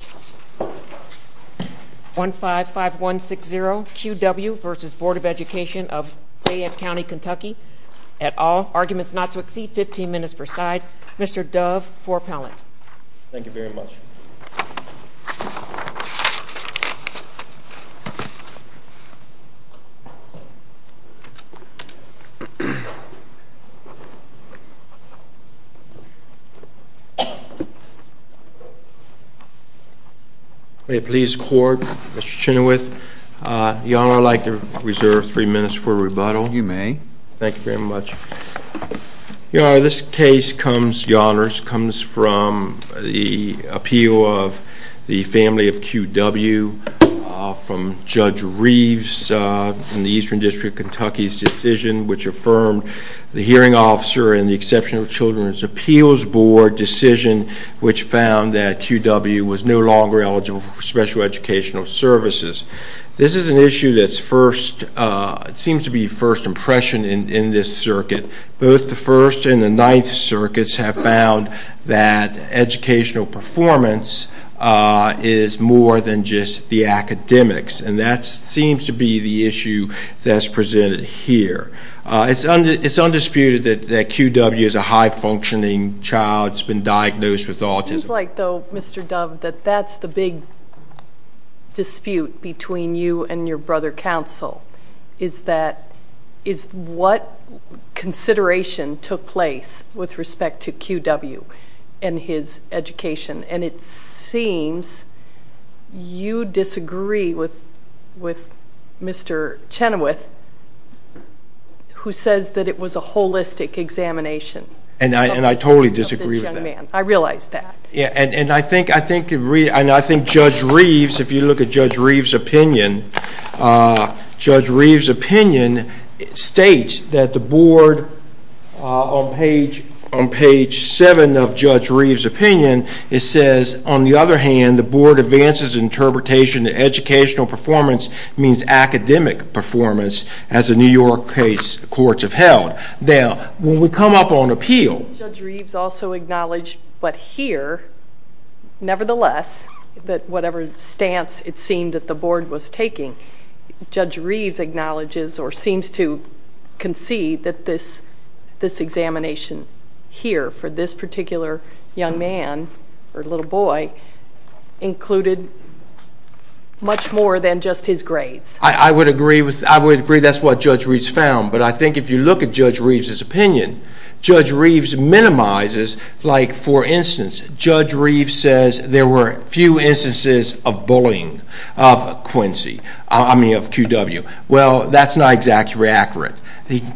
County, KY at all. Arguments not to exceed 15 minutes per side. Mr. Dove for appellant. Thank you very much. May it please the court, Mr. Chenoweth, Your Honor, I'd like to reserve three minutes for rebuttal. You may. Thank you very much. Your Honor, this case comes, Your Honors, comes from the appeal of the family of QW from Judge Reeves in the Eastern District of Kentucky's decision, which affirmed the hearing officer in the Exceptional Children's Appeals Board decision which found that QW was no longer eligible for special educational services. This is an issue that seems to be first impression in this circuit. Both the First and the Ninth Circuits have found that educational performance is more than just the academics. And that seems to be the issue that's presented here. It's undisputed that QW is a high-functioning child. It's been diagnosed with autism. It seems like, though, Mr. Dove, that that's the big dispute between you and your brother, counsel, is what consideration took place with respect to QW and his education. And it seems you disagree with Mr. Chenoweth, who says that it was a holistic examination. And I totally disagree with that. I realize that. And I think Judge Reeves, if you look at Judge Reeves' opinion, Judge Reeves' opinion states that the board, on page 7 of Judge Reeves' opinion, it says, on the other hand, the board advances interpretation that educational performance means academic performance, as the New York case courts have held. When we come up on appeal... Judge Reeves also acknowledged, but here, nevertheless, that whatever stance it seemed that the board was taking, Judge Reeves acknowledges or seems to concede that this examination here for this particular young man or little boy included much more than just his grades. I would agree. I would agree that's what Judge Reeves found. But I think if you look at Judge Reeves' opinion, Judge Reeves minimizes, like for instance, Judge Reeves says there were few instances of bullying of Quincy, I mean of QW. Well, that's not exactly accurate.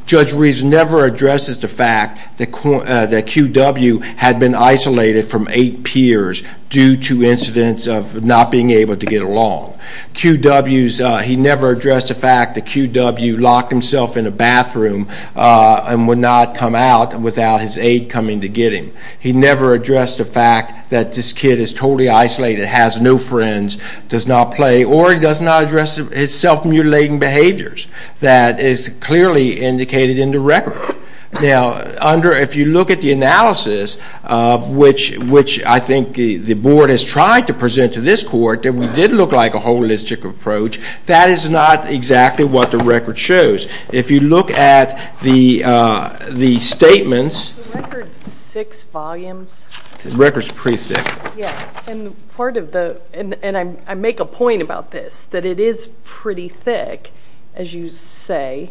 Judge Reeves never addresses the fact that QW had been isolated from eight peers due to incidents of not being able to get along. QW's, he never addressed the fact that QW locked himself in a bathroom and would not come out without his aide coming to get him. He never addressed the fact that this kid is totally isolated, has no friends, does not play, or does not address his self-mutilating behaviors. That is clearly indicated in the record. Now, under, if you look at the analysis of which I think the board has tried to present to this court, that we did look like a holistic approach, that is not exactly what the record shows. If you look at the statements. The record's six volumes. The record's pretty thick. And part of the, and I make a point about this, that it is pretty thick, as you say,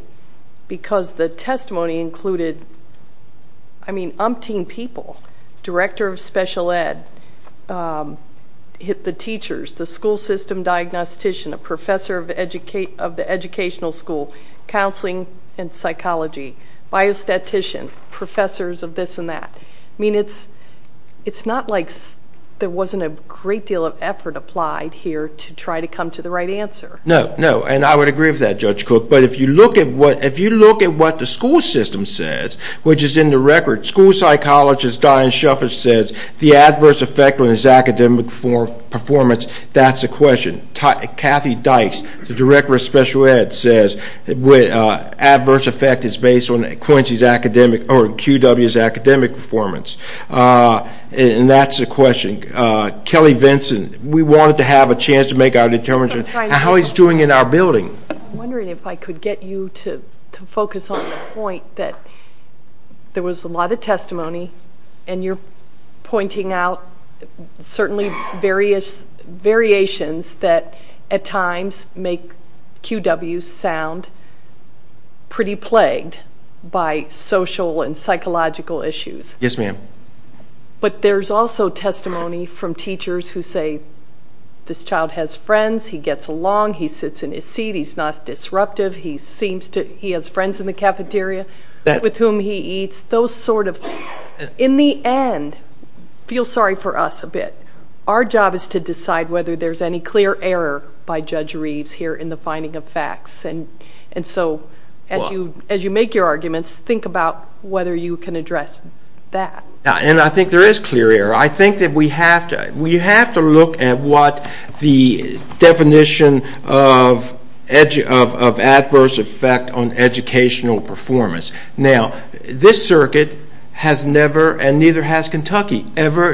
because the testimony included, I mean, umpteen people. Director of Special Ed, the teachers, the school system diagnostician, a professor of the educational school, counseling and psychology, biostatistician, professors of this and that. I mean, it's not like there wasn't a great deal of effort applied here to try to come to the right answer. No, no. And I would agree with that, Judge Cook. But if you look at what the school system says, which is in the record, school psychologist Diane Shufford says the adverse effect on his academic performance, that's a question. Kathy Dice, the director of Special Ed, says adverse effect is based on Quincy's academic, or QW's academic performance. And that's a question. Kelly Vinson, we wanted to have a chance to make our determination on how he's doing in our building. I'm wondering if I could get you to focus on the point that there was a lot of testimony, and you're pointing out certainly variations that at times make QW's sound pretty plagued by social and psychological issues. Yes, ma'am. But there's also testimony from teachers who say this child has friends, he gets along, he sits in his seat, he's not disruptive, he has friends in the cafeteria with whom he eats, those sort of things. In the end, feel sorry for us a bit. Our job is to decide whether there's any clear error by Judge Reeves here in the finding of facts. And so as you make your arguments, think about whether you can address that. And I think there is clear error. I think that we have to look at what the definition of adverse effect on educational performance. Now, this circuit has never, and neither has Kentucky, ever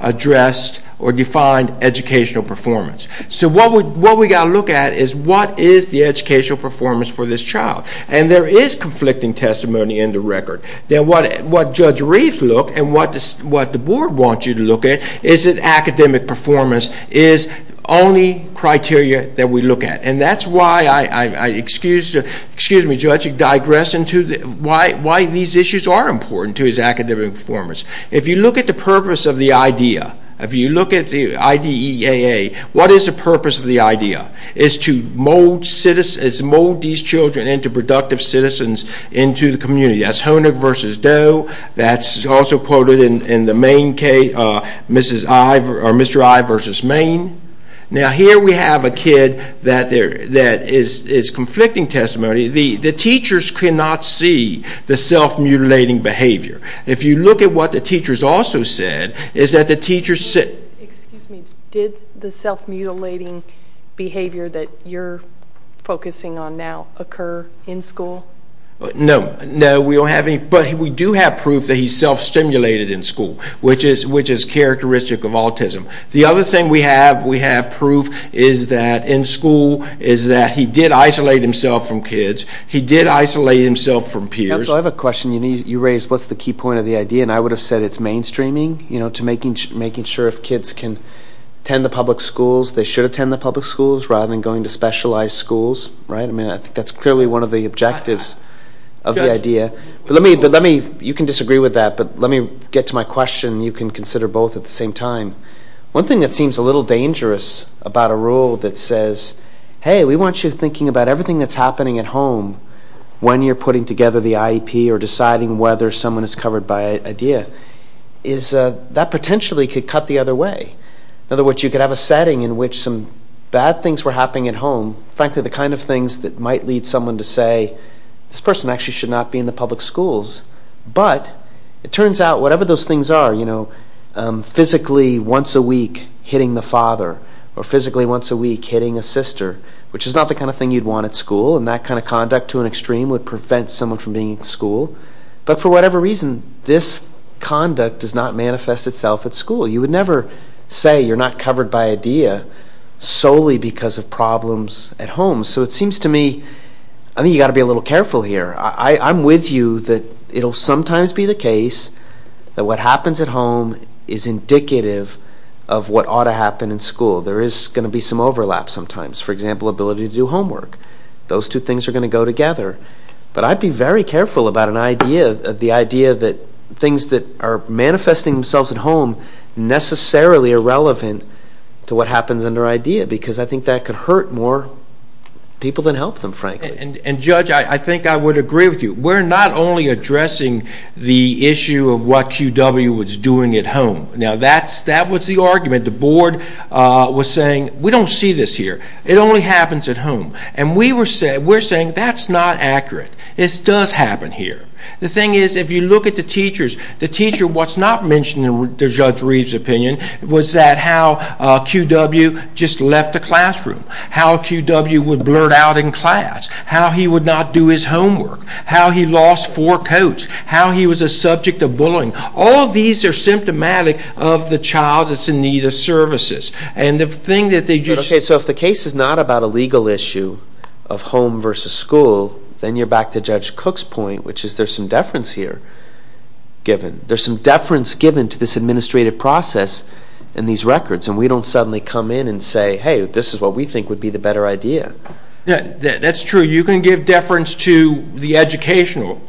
addressed or defined educational performance. So what we've got to look at is what is the educational performance for this child. And there is conflicting testimony in the record. Now, what Judge Reeves looked and what the board wants you to look at is that academic performance is the only criteria that we look at. And that's why I digress into why these issues are important to his academic performance. If you look at the purpose of the idea, if you look at the IDEAA, what is the purpose of the idea? It's to mold these children into productive citizens into the community. That's Hoenig versus Doe. That's also quoted in the Maine case, Mr. I versus Maine. Now, here we have a kid that is conflicting testimony. The teachers cannot see the self-mutilating behavior. If you look at what the teachers also said, is that the teachers said... Excuse me. Did the self-mutilating behavior that you're focusing on now occur in school? No. No, we don't have any. But we do have proof that he self-stimulated in school, which is characteristic of autism. The other thing we have, we have proof, is that in school, is that he did isolate himself from kids. He did isolate himself from peers. Counsel, I have a question. You raised what's the key point of the idea, and I would have said it's mainstreaming, to making sure if kids can attend the public schools, they should attend the public schools, rather than going to specialized schools. I think that's clearly one of the objectives of the idea. You can disagree with that, but let me get to my question. You can consider both at the same time. One thing that seems a little dangerous about a rule that says, hey, we want you thinking about everything that's happening at home, when you're putting together the IEP or deciding whether someone is covered by IDEA, is that potentially could cut the other way. In other words, you could have a setting in which some bad things were happening at home, frankly the kind of things that might lead someone to say, this person actually should not be in the public schools. But it turns out whatever those things are, you know, physically once a week hitting the father, or physically once a week hitting a sister, which is not the kind of thing you'd want at school, and that kind of conduct to an extreme would prevent someone from being in school. But for whatever reason, this conduct does not manifest itself at school. You would never say you're not covered by IDEA solely because of problems at home. So it seems to me, I think you've got to be a little careful here. I'm with you that it'll sometimes be the case that what happens at home is indicative of what ought to happen in school. There is going to be some overlap sometimes. For example, ability to do homework. Those two things are going to go together. But I'd be very careful about the idea that things that are manifesting themselves at home necessarily are relevant to what happens under IDEA because I think that could hurt more people than help them, frankly. And, Judge, I think I would agree with you. We're not only addressing the issue of what Q.W. was doing at home. Now, that was the argument. The board was saying, We don't see this here. It only happens at home. And we're saying, That's not accurate. This does happen here. The thing is, if you look at the teachers, the teacher, what's not mentioned in Judge Reeves' opinion, was that how Q.W. just left the classroom, how Q.W. would blurt out in class, how he would not do his homework, how he lost four coats, how he was a subject of bullying. All of these are symptomatic of the child that's in need of services. And the thing that they just... Okay, so if the case is not about a legal issue of home versus school, then you're back to Judge Cook's point, which is there's some deference here given. There's some deference given to this administrative process and these records. And we don't suddenly come in and say, Hey, this is what we think would be the better idea. That's true. You can give deference to the educational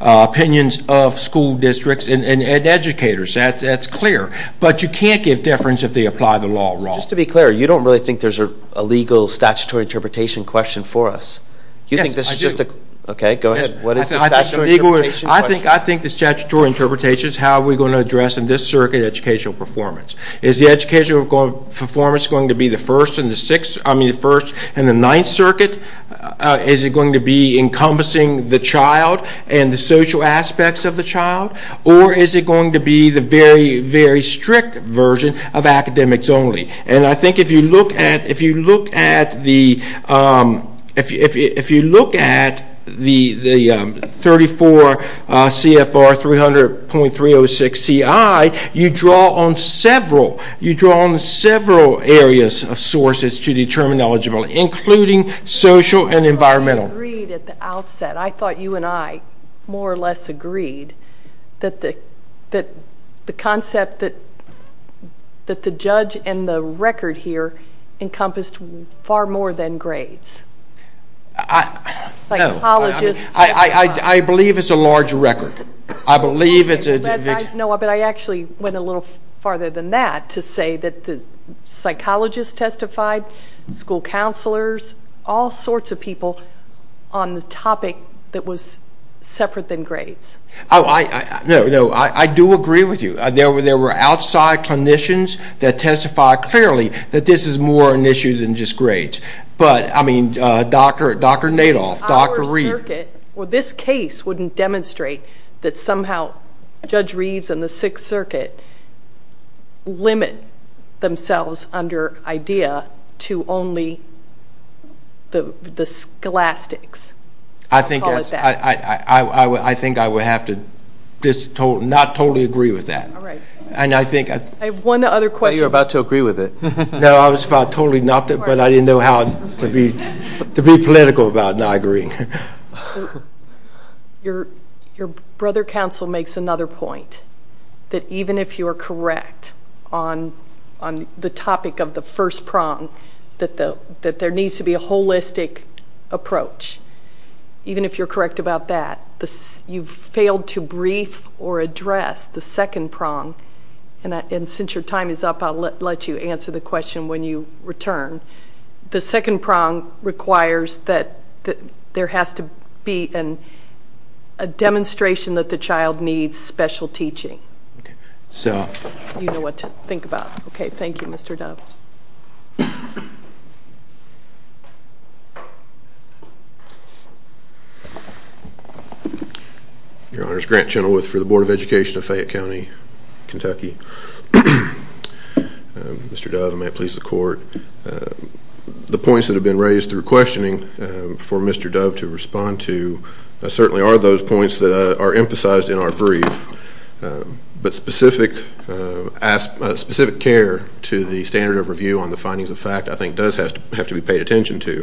opinions of school districts and educators. That's clear. But you can't give deference if they apply the law wrong. Just to be clear, you don't really think there's a legal statutory interpretation question for us? Yes, I do. Okay, go ahead. I think the statutory interpretation is, how are we going to address in this circuit educational performance? Is the educational performance going to be the first and the ninth circuit? Is it going to be encompassing the child and the social aspects of the child? Or is it going to be the very, very strict version of academics only? And I think if you look at the 34 CFR 300.306CI, you draw on several areas of sources to determine eligible, including social and environmental. I thought we agreed at the outset. I thought you and I more or less agreed that the concept that the judge and the record here encompassed far more than grades. I believe it's a large record. No, but I actually went a little farther than that to say that the psychologists testified, school counselors, all sorts of people on the topic that was separate than grades. No, I do agree with you. There were outside clinicians that testified clearly that this is more an issue than just grades. But, I mean, Dr. Nadoff, Dr. Reed. This case wouldn't demonstrate that somehow Judge Reeves and the sixth circuit limit themselves under IDEA to only the scholastics. I think I would have to not totally agree with that. I have one other question. I thought you were about to agree with it. No, I was about totally not to, but I didn't know how to be political about not agreeing. Your brother counsel makes another point, that even if you are correct on the topic of the first prong, that there needs to be a holistic approach. Even if you're correct about that, you've failed to brief or address the second prong, and since your time is up, I'll let you answer the question when you return. The second prong requires that there has to be a demonstration that the child needs special teaching. You know what to think about. Okay, thank you, Mr. Dove. Your Honor, it's Grant Chenoweth for the Board of Education of Fayette County, Kentucky. Mr. Dove, I may please the court. The points that have been raised through questioning for Mr. Dove to respond to certainly are those points that are emphasized in our brief, but specific care to the standard of review on the findings of fact I think does have to be paid attention to.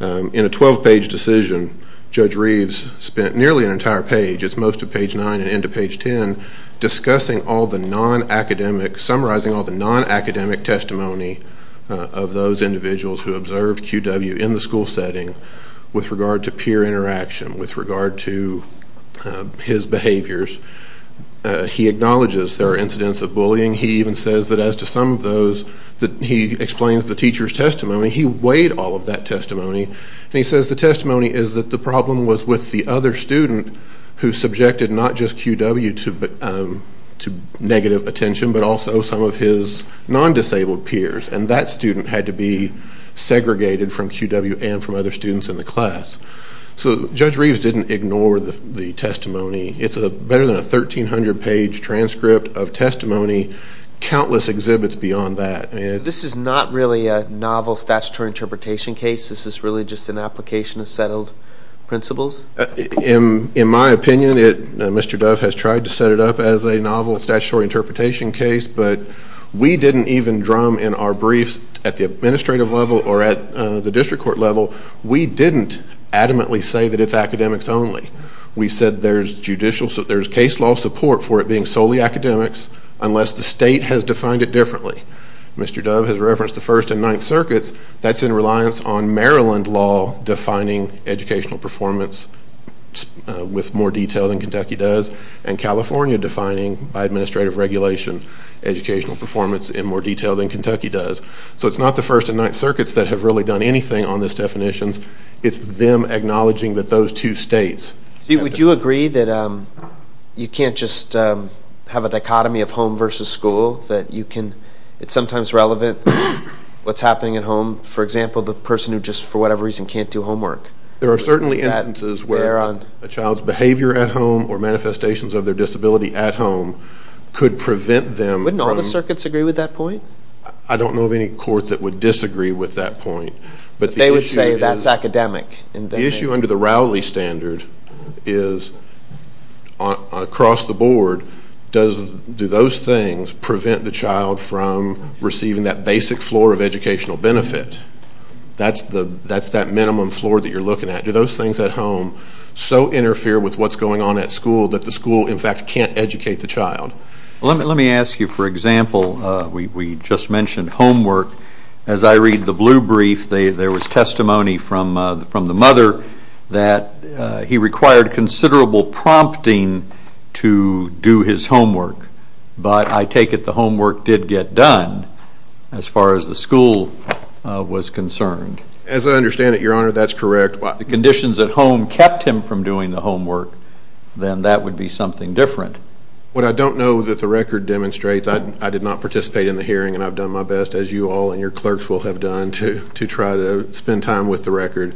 In a 12-page decision, Judge Reeves spent nearly an entire page, it's most of page 9 and into page 10, discussing all the non-academic, summarizing all the non-academic testimony of those individuals who observed QW in the school setting with regard to peer interaction, with regard to his behaviors. He acknowledges there are incidents of bullying. He even says that as to some of those, he explains the teacher's testimony. He weighed all of that testimony, and he says the testimony is that the problem was with the other student who subjected not just QW to negative attention, but also some of his non-disabled peers, and that student had to be segregated from QW and from other students in the class. So Judge Reeves didn't ignore the testimony. It's better than a 1,300-page transcript of testimony, countless exhibits beyond that. This is not really a novel statutory interpretation case. This is really just an application of settled principles? In my opinion, Mr. Dove has tried to set it up as a novel statutory interpretation case, but we didn't even drum in our briefs at the administrative level or at the district court level, we didn't adamantly say that it's academics only. We said there's case law support for it being solely academics unless the state has defined it differently. Mr. Dove has referenced the First and Ninth Circuits. That's in reliance on Maryland law defining educational performance with more detail than Kentucky does and California defining, by administrative regulation, educational performance in more detail than Kentucky does. So it's not the First and Ninth Circuits that have really done anything on this definition. It's them acknowledging that those two states. Would you agree that you can't just have a dichotomy of home versus school, that it's sometimes relevant what's happening at home? For example, the person who just for whatever reason can't do homework. There are certainly instances where a child's behavior at home or manifestations of their disability at home could prevent them from Wouldn't all the circuits agree with that point? I don't know of any court that would disagree with that point. But they would say that's academic. The issue under the Rowley standard is across the board, do those things prevent the child from receiving that basic floor of educational benefit? That's that minimum floor that you're looking at. Do those things at home so interfere with what's going on at school that the school, in fact, can't educate the child? Let me ask you, for example, we just mentioned homework. As I read the blue brief, there was testimony from the mother that he required considerable prompting to do his homework. But I take it the homework did get done as far as the school was concerned. As I understand it, Your Honor, that's correct. If the conditions at home kept him from doing the homework, then that would be something different. What I don't know that the record demonstrates, I did not participate in the hearing, and I've done my best, as you all and your clerks will have done, to try to spend time with the record.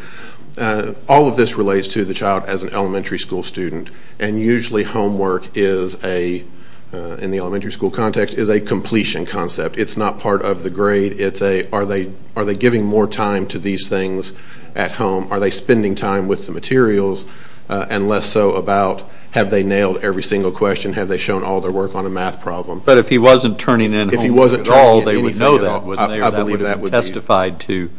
All of this relates to the child as an elementary school student. And usually homework is a, in the elementary school context, is a completion concept. It's not part of the grade. It's a are they giving more time to these things at home? Are they spending time with the materials? And less so about have they nailed every single question? Have they shown all their work on a math problem? But if he wasn't turning in homework at all, they would know that, wouldn't they? Or that would have been testified to.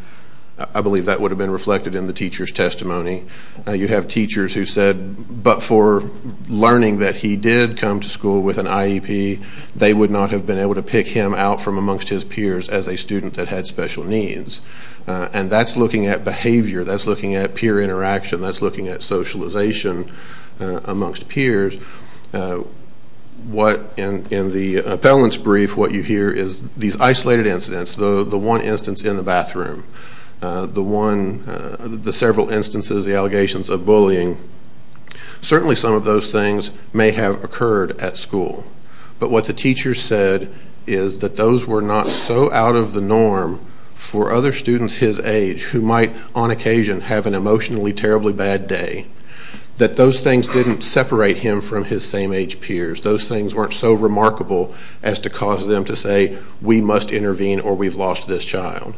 I believe that would have been reflected in the teacher's testimony. You have teachers who said, but for learning that he did come to school with an IEP, they would not have been able to pick him out from amongst his peers as a student that had special needs. And that's looking at behavior. That's looking at peer interaction. That's looking at socialization amongst peers. What, in the appellant's brief, what you hear is these isolated incidents, the one instance in the bathroom, the one, the several instances, the allegations of bullying, certainly some of those things may have occurred at school. But what the teacher said is that those were not so out of the norm for other students his age who might, on occasion, have an emotionally terribly bad day, that those things didn't separate him from his same age peers. Those things weren't so remarkable as to cause them to say, we must intervene or we've lost this child.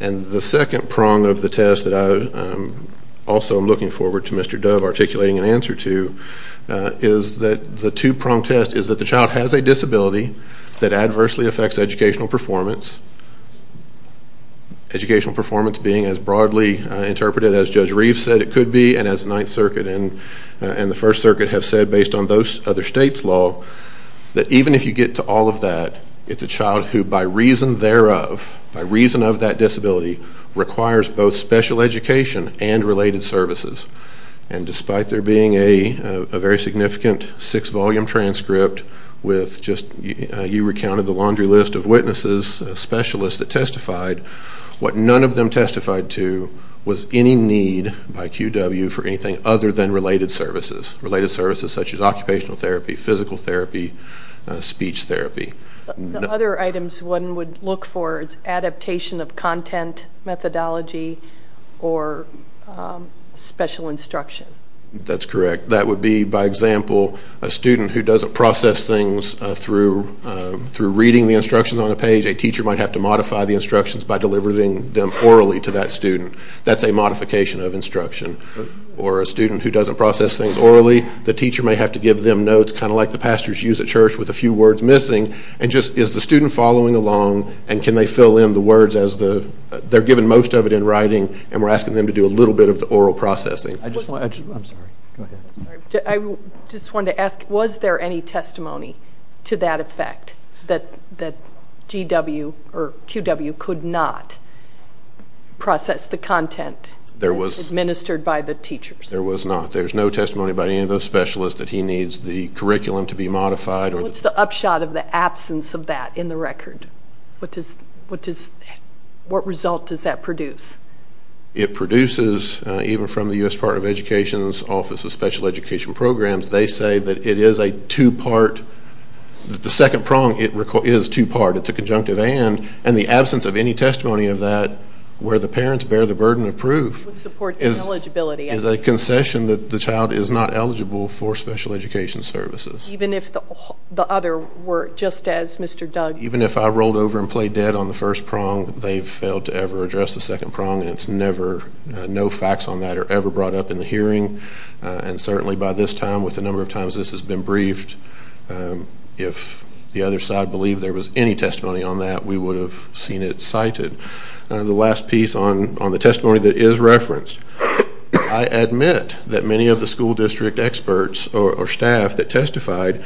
And the second prong of the test that I also am looking forward to Mr. Dove articulating an answer to is that the two-prong test is that the child has a disability that adversely affects educational performance, educational performance being as broadly interpreted as Judge Reeves said it could be and as the Ninth Circuit and the First Circuit have said based on those other states' law, that even if you get to all of that, it's a child who, by reason thereof, by reason of that disability, requires both special education and related services. And despite there being a very significant six-volume transcript with just, you recounted the laundry list of witnesses, specialists that testified, what none of them testified to was any need by QW for anything other than related services, related services such as occupational therapy, physical therapy, speech therapy. The other items one would look for is adaptation of content methodology or special instruction. That's correct. That would be, by example, a student who doesn't process things through reading the instructions on a page. A teacher might have to modify the instructions by delivering them orally to that student. That's a modification of instruction. Or a student who doesn't process things orally, the teacher may have to give them notes, kind of like the pastors use at church with a few words missing, and just is the student following along and can they fill in the words as the, they're given most of it in writing and we're asking them to do a little bit of the oral processing. I just want to, I'm sorry, go ahead. I just wanted to ask, was there any testimony to that effect, that GW or QW could not process the content? There was. Administered by the teachers. There was not. There's no testimony by any of those specialists that he needs the curriculum to be modified. What's the upshot of the absence of that in the record? What result does that produce? It produces, even from the U.S. Department of Education's Office of Special Education Programs, they say that it is a two-part, the second prong is two-part. It's a conjunctive and, and the absence of any testimony of that where the parents bear the burden of proof is a concession that the child is not eligible for special education services. Even if the other were just as Mr. Doug? Even if I rolled over and played dead on the first prong, they've failed to ever address the second prong, and it's never, no facts on that are ever brought up in the hearing. And certainly by this time, with the number of times this has been briefed, if the other side believed there was any testimony on that, we would have seen it cited. The last piece on the testimony that is referenced, I admit that many of the school district experts or staff that testified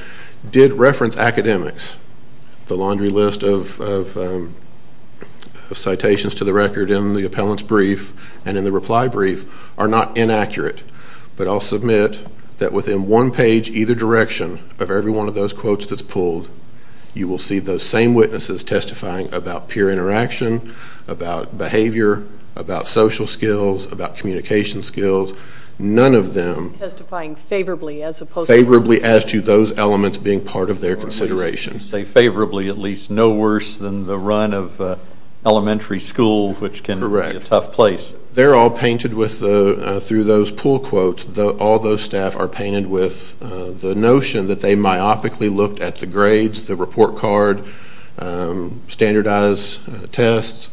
did reference academics. The laundry list of citations to the record in the appellant's brief and in the reply brief are not inaccurate, but I'll submit that within one page either direction of every one of those quotes that's pulled, you will see those same witnesses testifying about peer interaction, about behavior, about social skills, about communication skills. None of them- Testifying favorably as opposed to- Favorably as to those elements being part of their consideration. You say favorably, at least no worse than the run of elementary school, which can be a tough place. Correct. They're all painted with the, through those pull quotes, all those staff are painted with the notion that they myopically looked at the grades, the report card, standardized tests,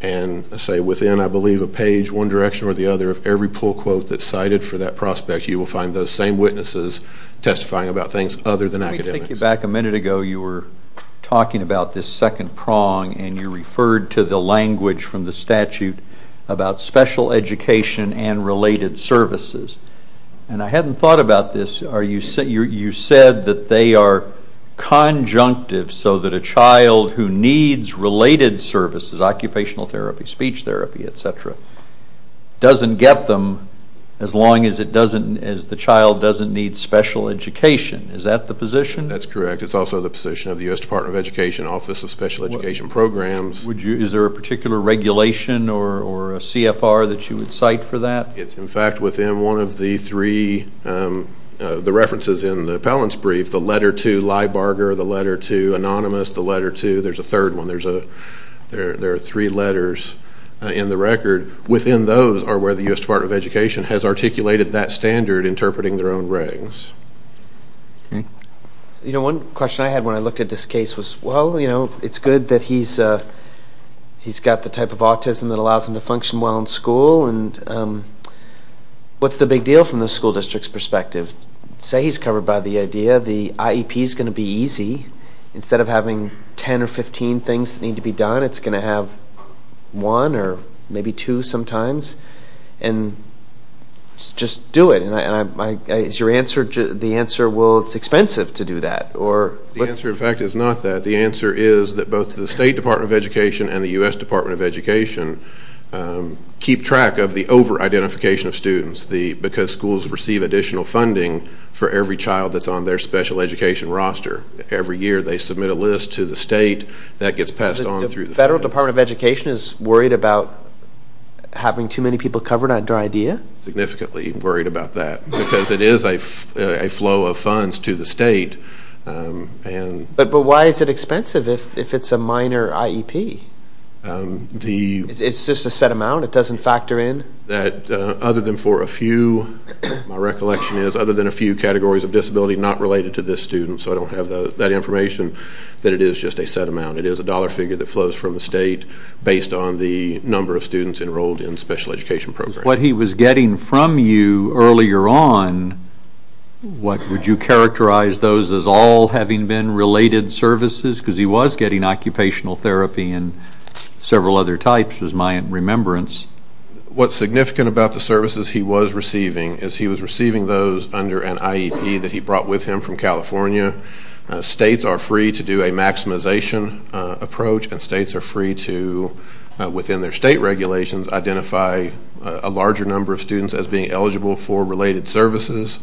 and say within, I believe, a page one direction or the other of every pull quote that's cited for that prospect, you will find those same witnesses testifying about things other than academics. Let me take you back a minute ago. You were talking about this second prong and you referred to the language from the statute about special education and related services. And I hadn't thought about this. You said that they are conjunctive so that a child who needs related services, occupational therapy, speech therapy, et cetera, doesn't get them as long as the child doesn't need special education. Is that the position? That's correct. It's also the position of the U.S. Department of Education Office of Special Education Programs. Is there a particular regulation or a CFR that you would cite for that? It's, in fact, within one of the three, the references in the appellant's brief, the letter to Lybarger, the letter to Anonymous, the letter to, there's a third one, there are three letters in the record. Within those are where the U.S. Department of Education has articulated that standard interpreting their own ratings. Okay. You know, one question I had when I looked at this case was, well, you know, it's good that he's got the type of autism that allows him to function well in school. And what's the big deal from the school district's perspective? Say he's covered by the idea the IEP is going to be easy. Instead of having 10 or 15 things that need to be done, it's going to have one or maybe two sometimes. And just do it. Is your answer, the answer, well, it's expensive to do that? The answer, in fact, is not that. The answer is that both the State Department of Education and the U.S. Department of Education keep track of the over-identification of students because schools receive additional funding for every child that's on their special education roster. Every year they submit a list to the state. That gets passed on through the feds. The Federal Department of Education is worried about having too many people covered under IDEA? Significantly worried about that because it is a flow of funds to the state. But why is it expensive if it's a minor IEP? It's just a set amount? It doesn't factor in? That other than for a few, my recollection is, other than a few categories of disability not related to this student, so I don't have that information, that it is just a set amount. It is a dollar figure that flows from the state based on the number of students enrolled in special education programs. What he was getting from you earlier on, what would you characterize those as all having been related services? Because he was getting occupational therapy and several other types was my remembrance. What's significant about the services he was receiving is he was receiving those under an IEP that he brought with him from California. States are free to do a maximization approach, and states are free to, within their state regulations, identify a larger number of students as being eligible for related services.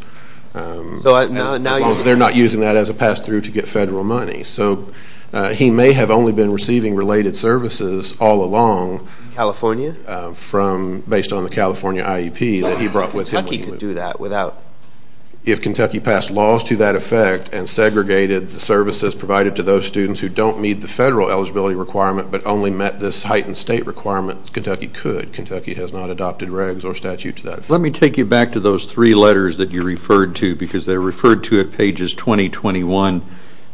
As long as they're not using that as a pass through to get federal money. So he may have only been receiving related services all along. California? Based on the California IEP that he brought with him. Kentucky could do that without. If Kentucky passed laws to that effect and segregated the services provided to those students who don't meet the federal eligibility requirement but only met this heightened state requirement, Kentucky could. Kentucky has not adopted regs or statute to that effect. Let me take you back to those three letters that you referred to because they're referred to at pages 20, 21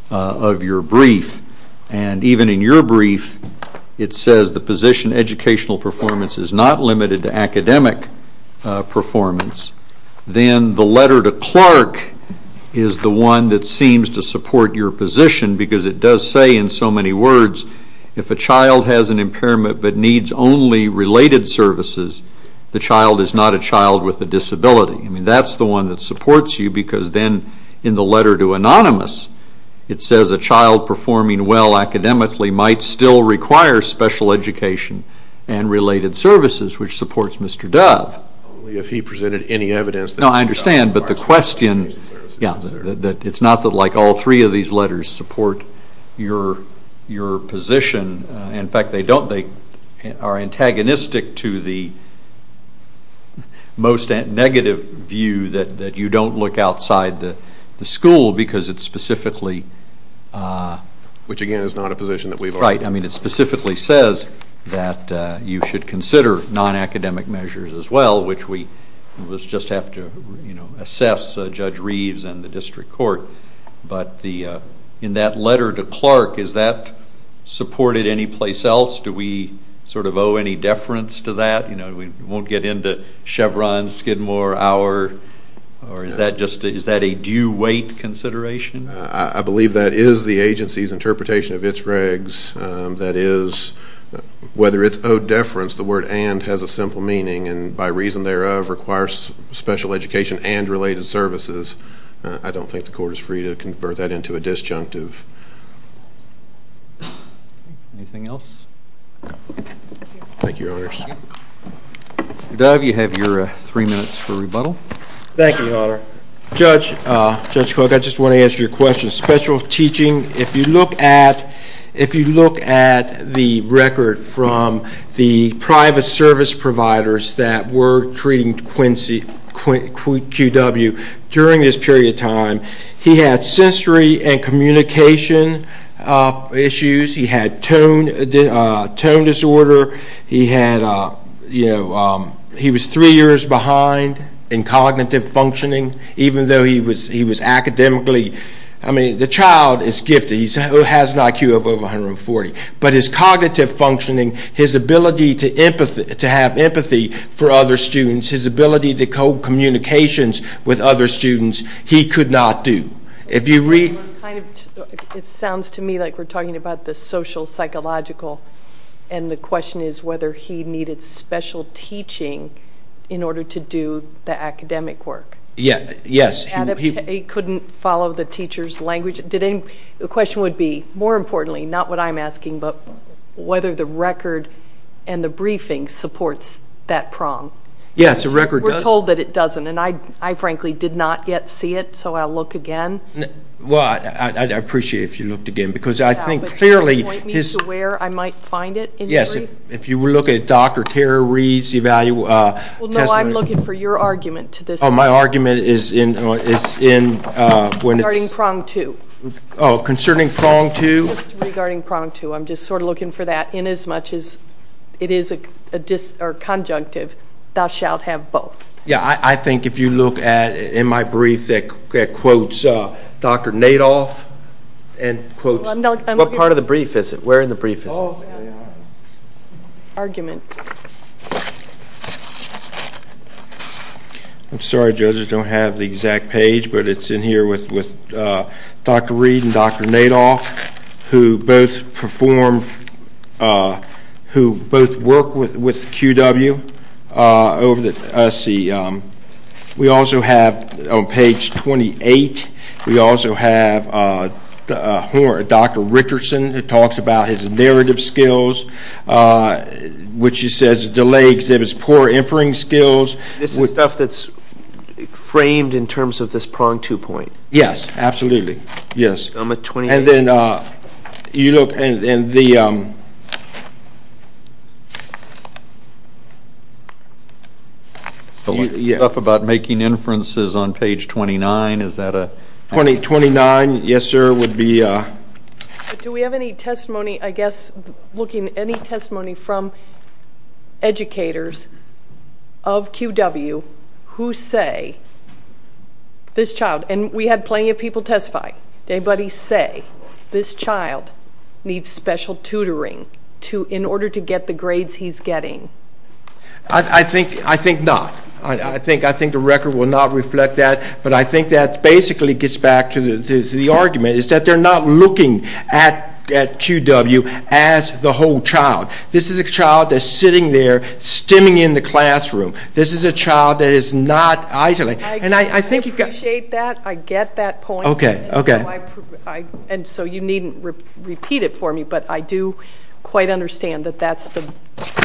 of your brief. And even in your brief, it says the position educational performance is not limited to academic performance. Then the letter to Clark is the one that seems to support your position because it does say in so many words, if a child has an impairment but needs only related services, the child is not a child with a disability. I mean, that's the one that supports you because then in the letter to Anonymous, it says a child performing well academically might still require special education and related services, which supports Mr. Dove. Only if he presented any evidence. No, I understand, but the question, yeah, it's not like all three of these letters support your position. In fact, they don't. They are antagonistic to the most negative view that you don't look outside the school because it's specifically. Which, again, is not a position that we've argued. Right, I mean, it specifically says that you should consider non-academic measures as well, which we just have to assess Judge Reeves and the district court. But in that letter to Clark, is that supported anyplace else? Do we sort of owe any deference to that? You know, we won't get into Chevron, Skidmore, our, or is that a due weight consideration? I believe that is the agency's interpretation of its regs. That is, whether it's owed deference, the word and has a simple meaning, and by reason thereof requires special education and related services. I don't think the court is free to convert that into a disjunctive. Anything else? Thank you, Your Honors. Dove, you have your three minutes for rebuttal. Thank you, Your Honor. Judge Cook, I just want to answer your question. Special teaching, if you look at the record from the private service providers that were treating QW during this period of time, he had sensory and communication issues. He had tone disorder. He had, you know, he was three years behind in cognitive functioning, even though he was academically, I mean, the child is gifted. He has an IQ of over 140, but his cognitive functioning, his ability to have empathy for other students, his ability to code communications with other students, he could not do. It sounds to me like we're talking about the social, psychological, and the question is whether he needed special teaching in order to do the academic work. Yes. He couldn't follow the teacher's language. The question would be, more importantly, not what I'm asking, but whether the record and the briefing supports that prong. Yes, the record does. We're told that it doesn't, and I, frankly, did not yet see it, so I'll look again. Well, I'd appreciate it if you looked again, because I think clearly his— Can you point me to where I might find it? Yes, if you look at Dr. Carey's evaluation. Well, no, I'm looking for your argument to this. Oh, my argument is in when it's— Regarding prong two. Oh, concerning prong two? Just regarding prong two. I'm just sort of looking for that. Inasmuch as it is conjunctive, thou shalt have both. Yeah, I think if you look in my brief that quotes Dr. Nadoff and quotes— What part of the brief is it? Where in the brief is it? Argument. I'm sorry, judges, I don't have the exact page, but it's in here with Dr. Reed and Dr. Nadoff, who both perform— who both work with QW over the— Let's see. We also have, on page 28, we also have Dr. Richardson who talks about his narrative skills, which he says delay exhibits poor inferring skills. This is stuff that's framed in terms of this prong two point. Yes, absolutely, yes. And then you look in the— Stuff about making inferences on page 29, is that a— 29, yes, sir, would be— Do we have any testimony, I guess, looking— any testimony from educators of QW who say this child— and we had plenty of people testify. Anybody say this child needs special tutoring in order to get the grades he's getting? I think not. I think the record will not reflect that, but I think that basically gets back to the argument, is that they're not looking at QW as the whole child. This is a child that's sitting there stimming in the classroom. This is a child that is not isolated. And I think you've got— I appreciate that. I get that point. Okay, okay. And so you needn't repeat it for me, but I do quite understand that that's the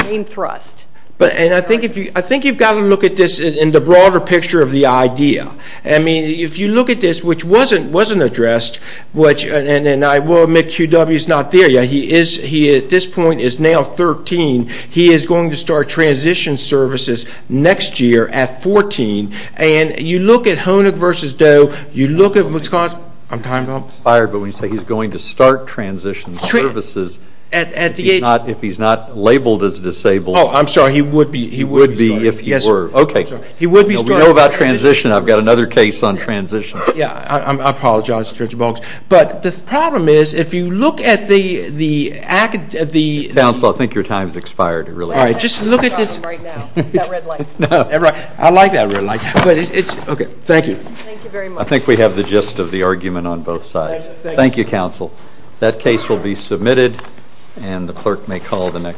main thrust. And I think you've got to look at this in the broader picture of the idea. I mean, if you look at this, which wasn't addressed, which— and I will admit QW's not there yet. He, at this point, is now 13. He is going to start transition services next year at 14. And you look at Honig versus Doe. You look at what's going on— I'm timed up. He's fired, but when you say he's going to start transition services, if he's not labeled as disabled— Oh, I'm sorry. He would be. He would be if he were. Okay. He would be. We know about transition. I've got another case on transition. Yeah. I apologize, Judge Bonk. But the problem is, if you look at the— Counsel, I think your time has expired. All right. Just look at this. That red light. No. I like that red light. Okay. Thank you. Thank you very much. I think we have the gist of the argument on both sides. Thank you. Thank you, Counsel. That case will be submitted, and the clerk may call the next.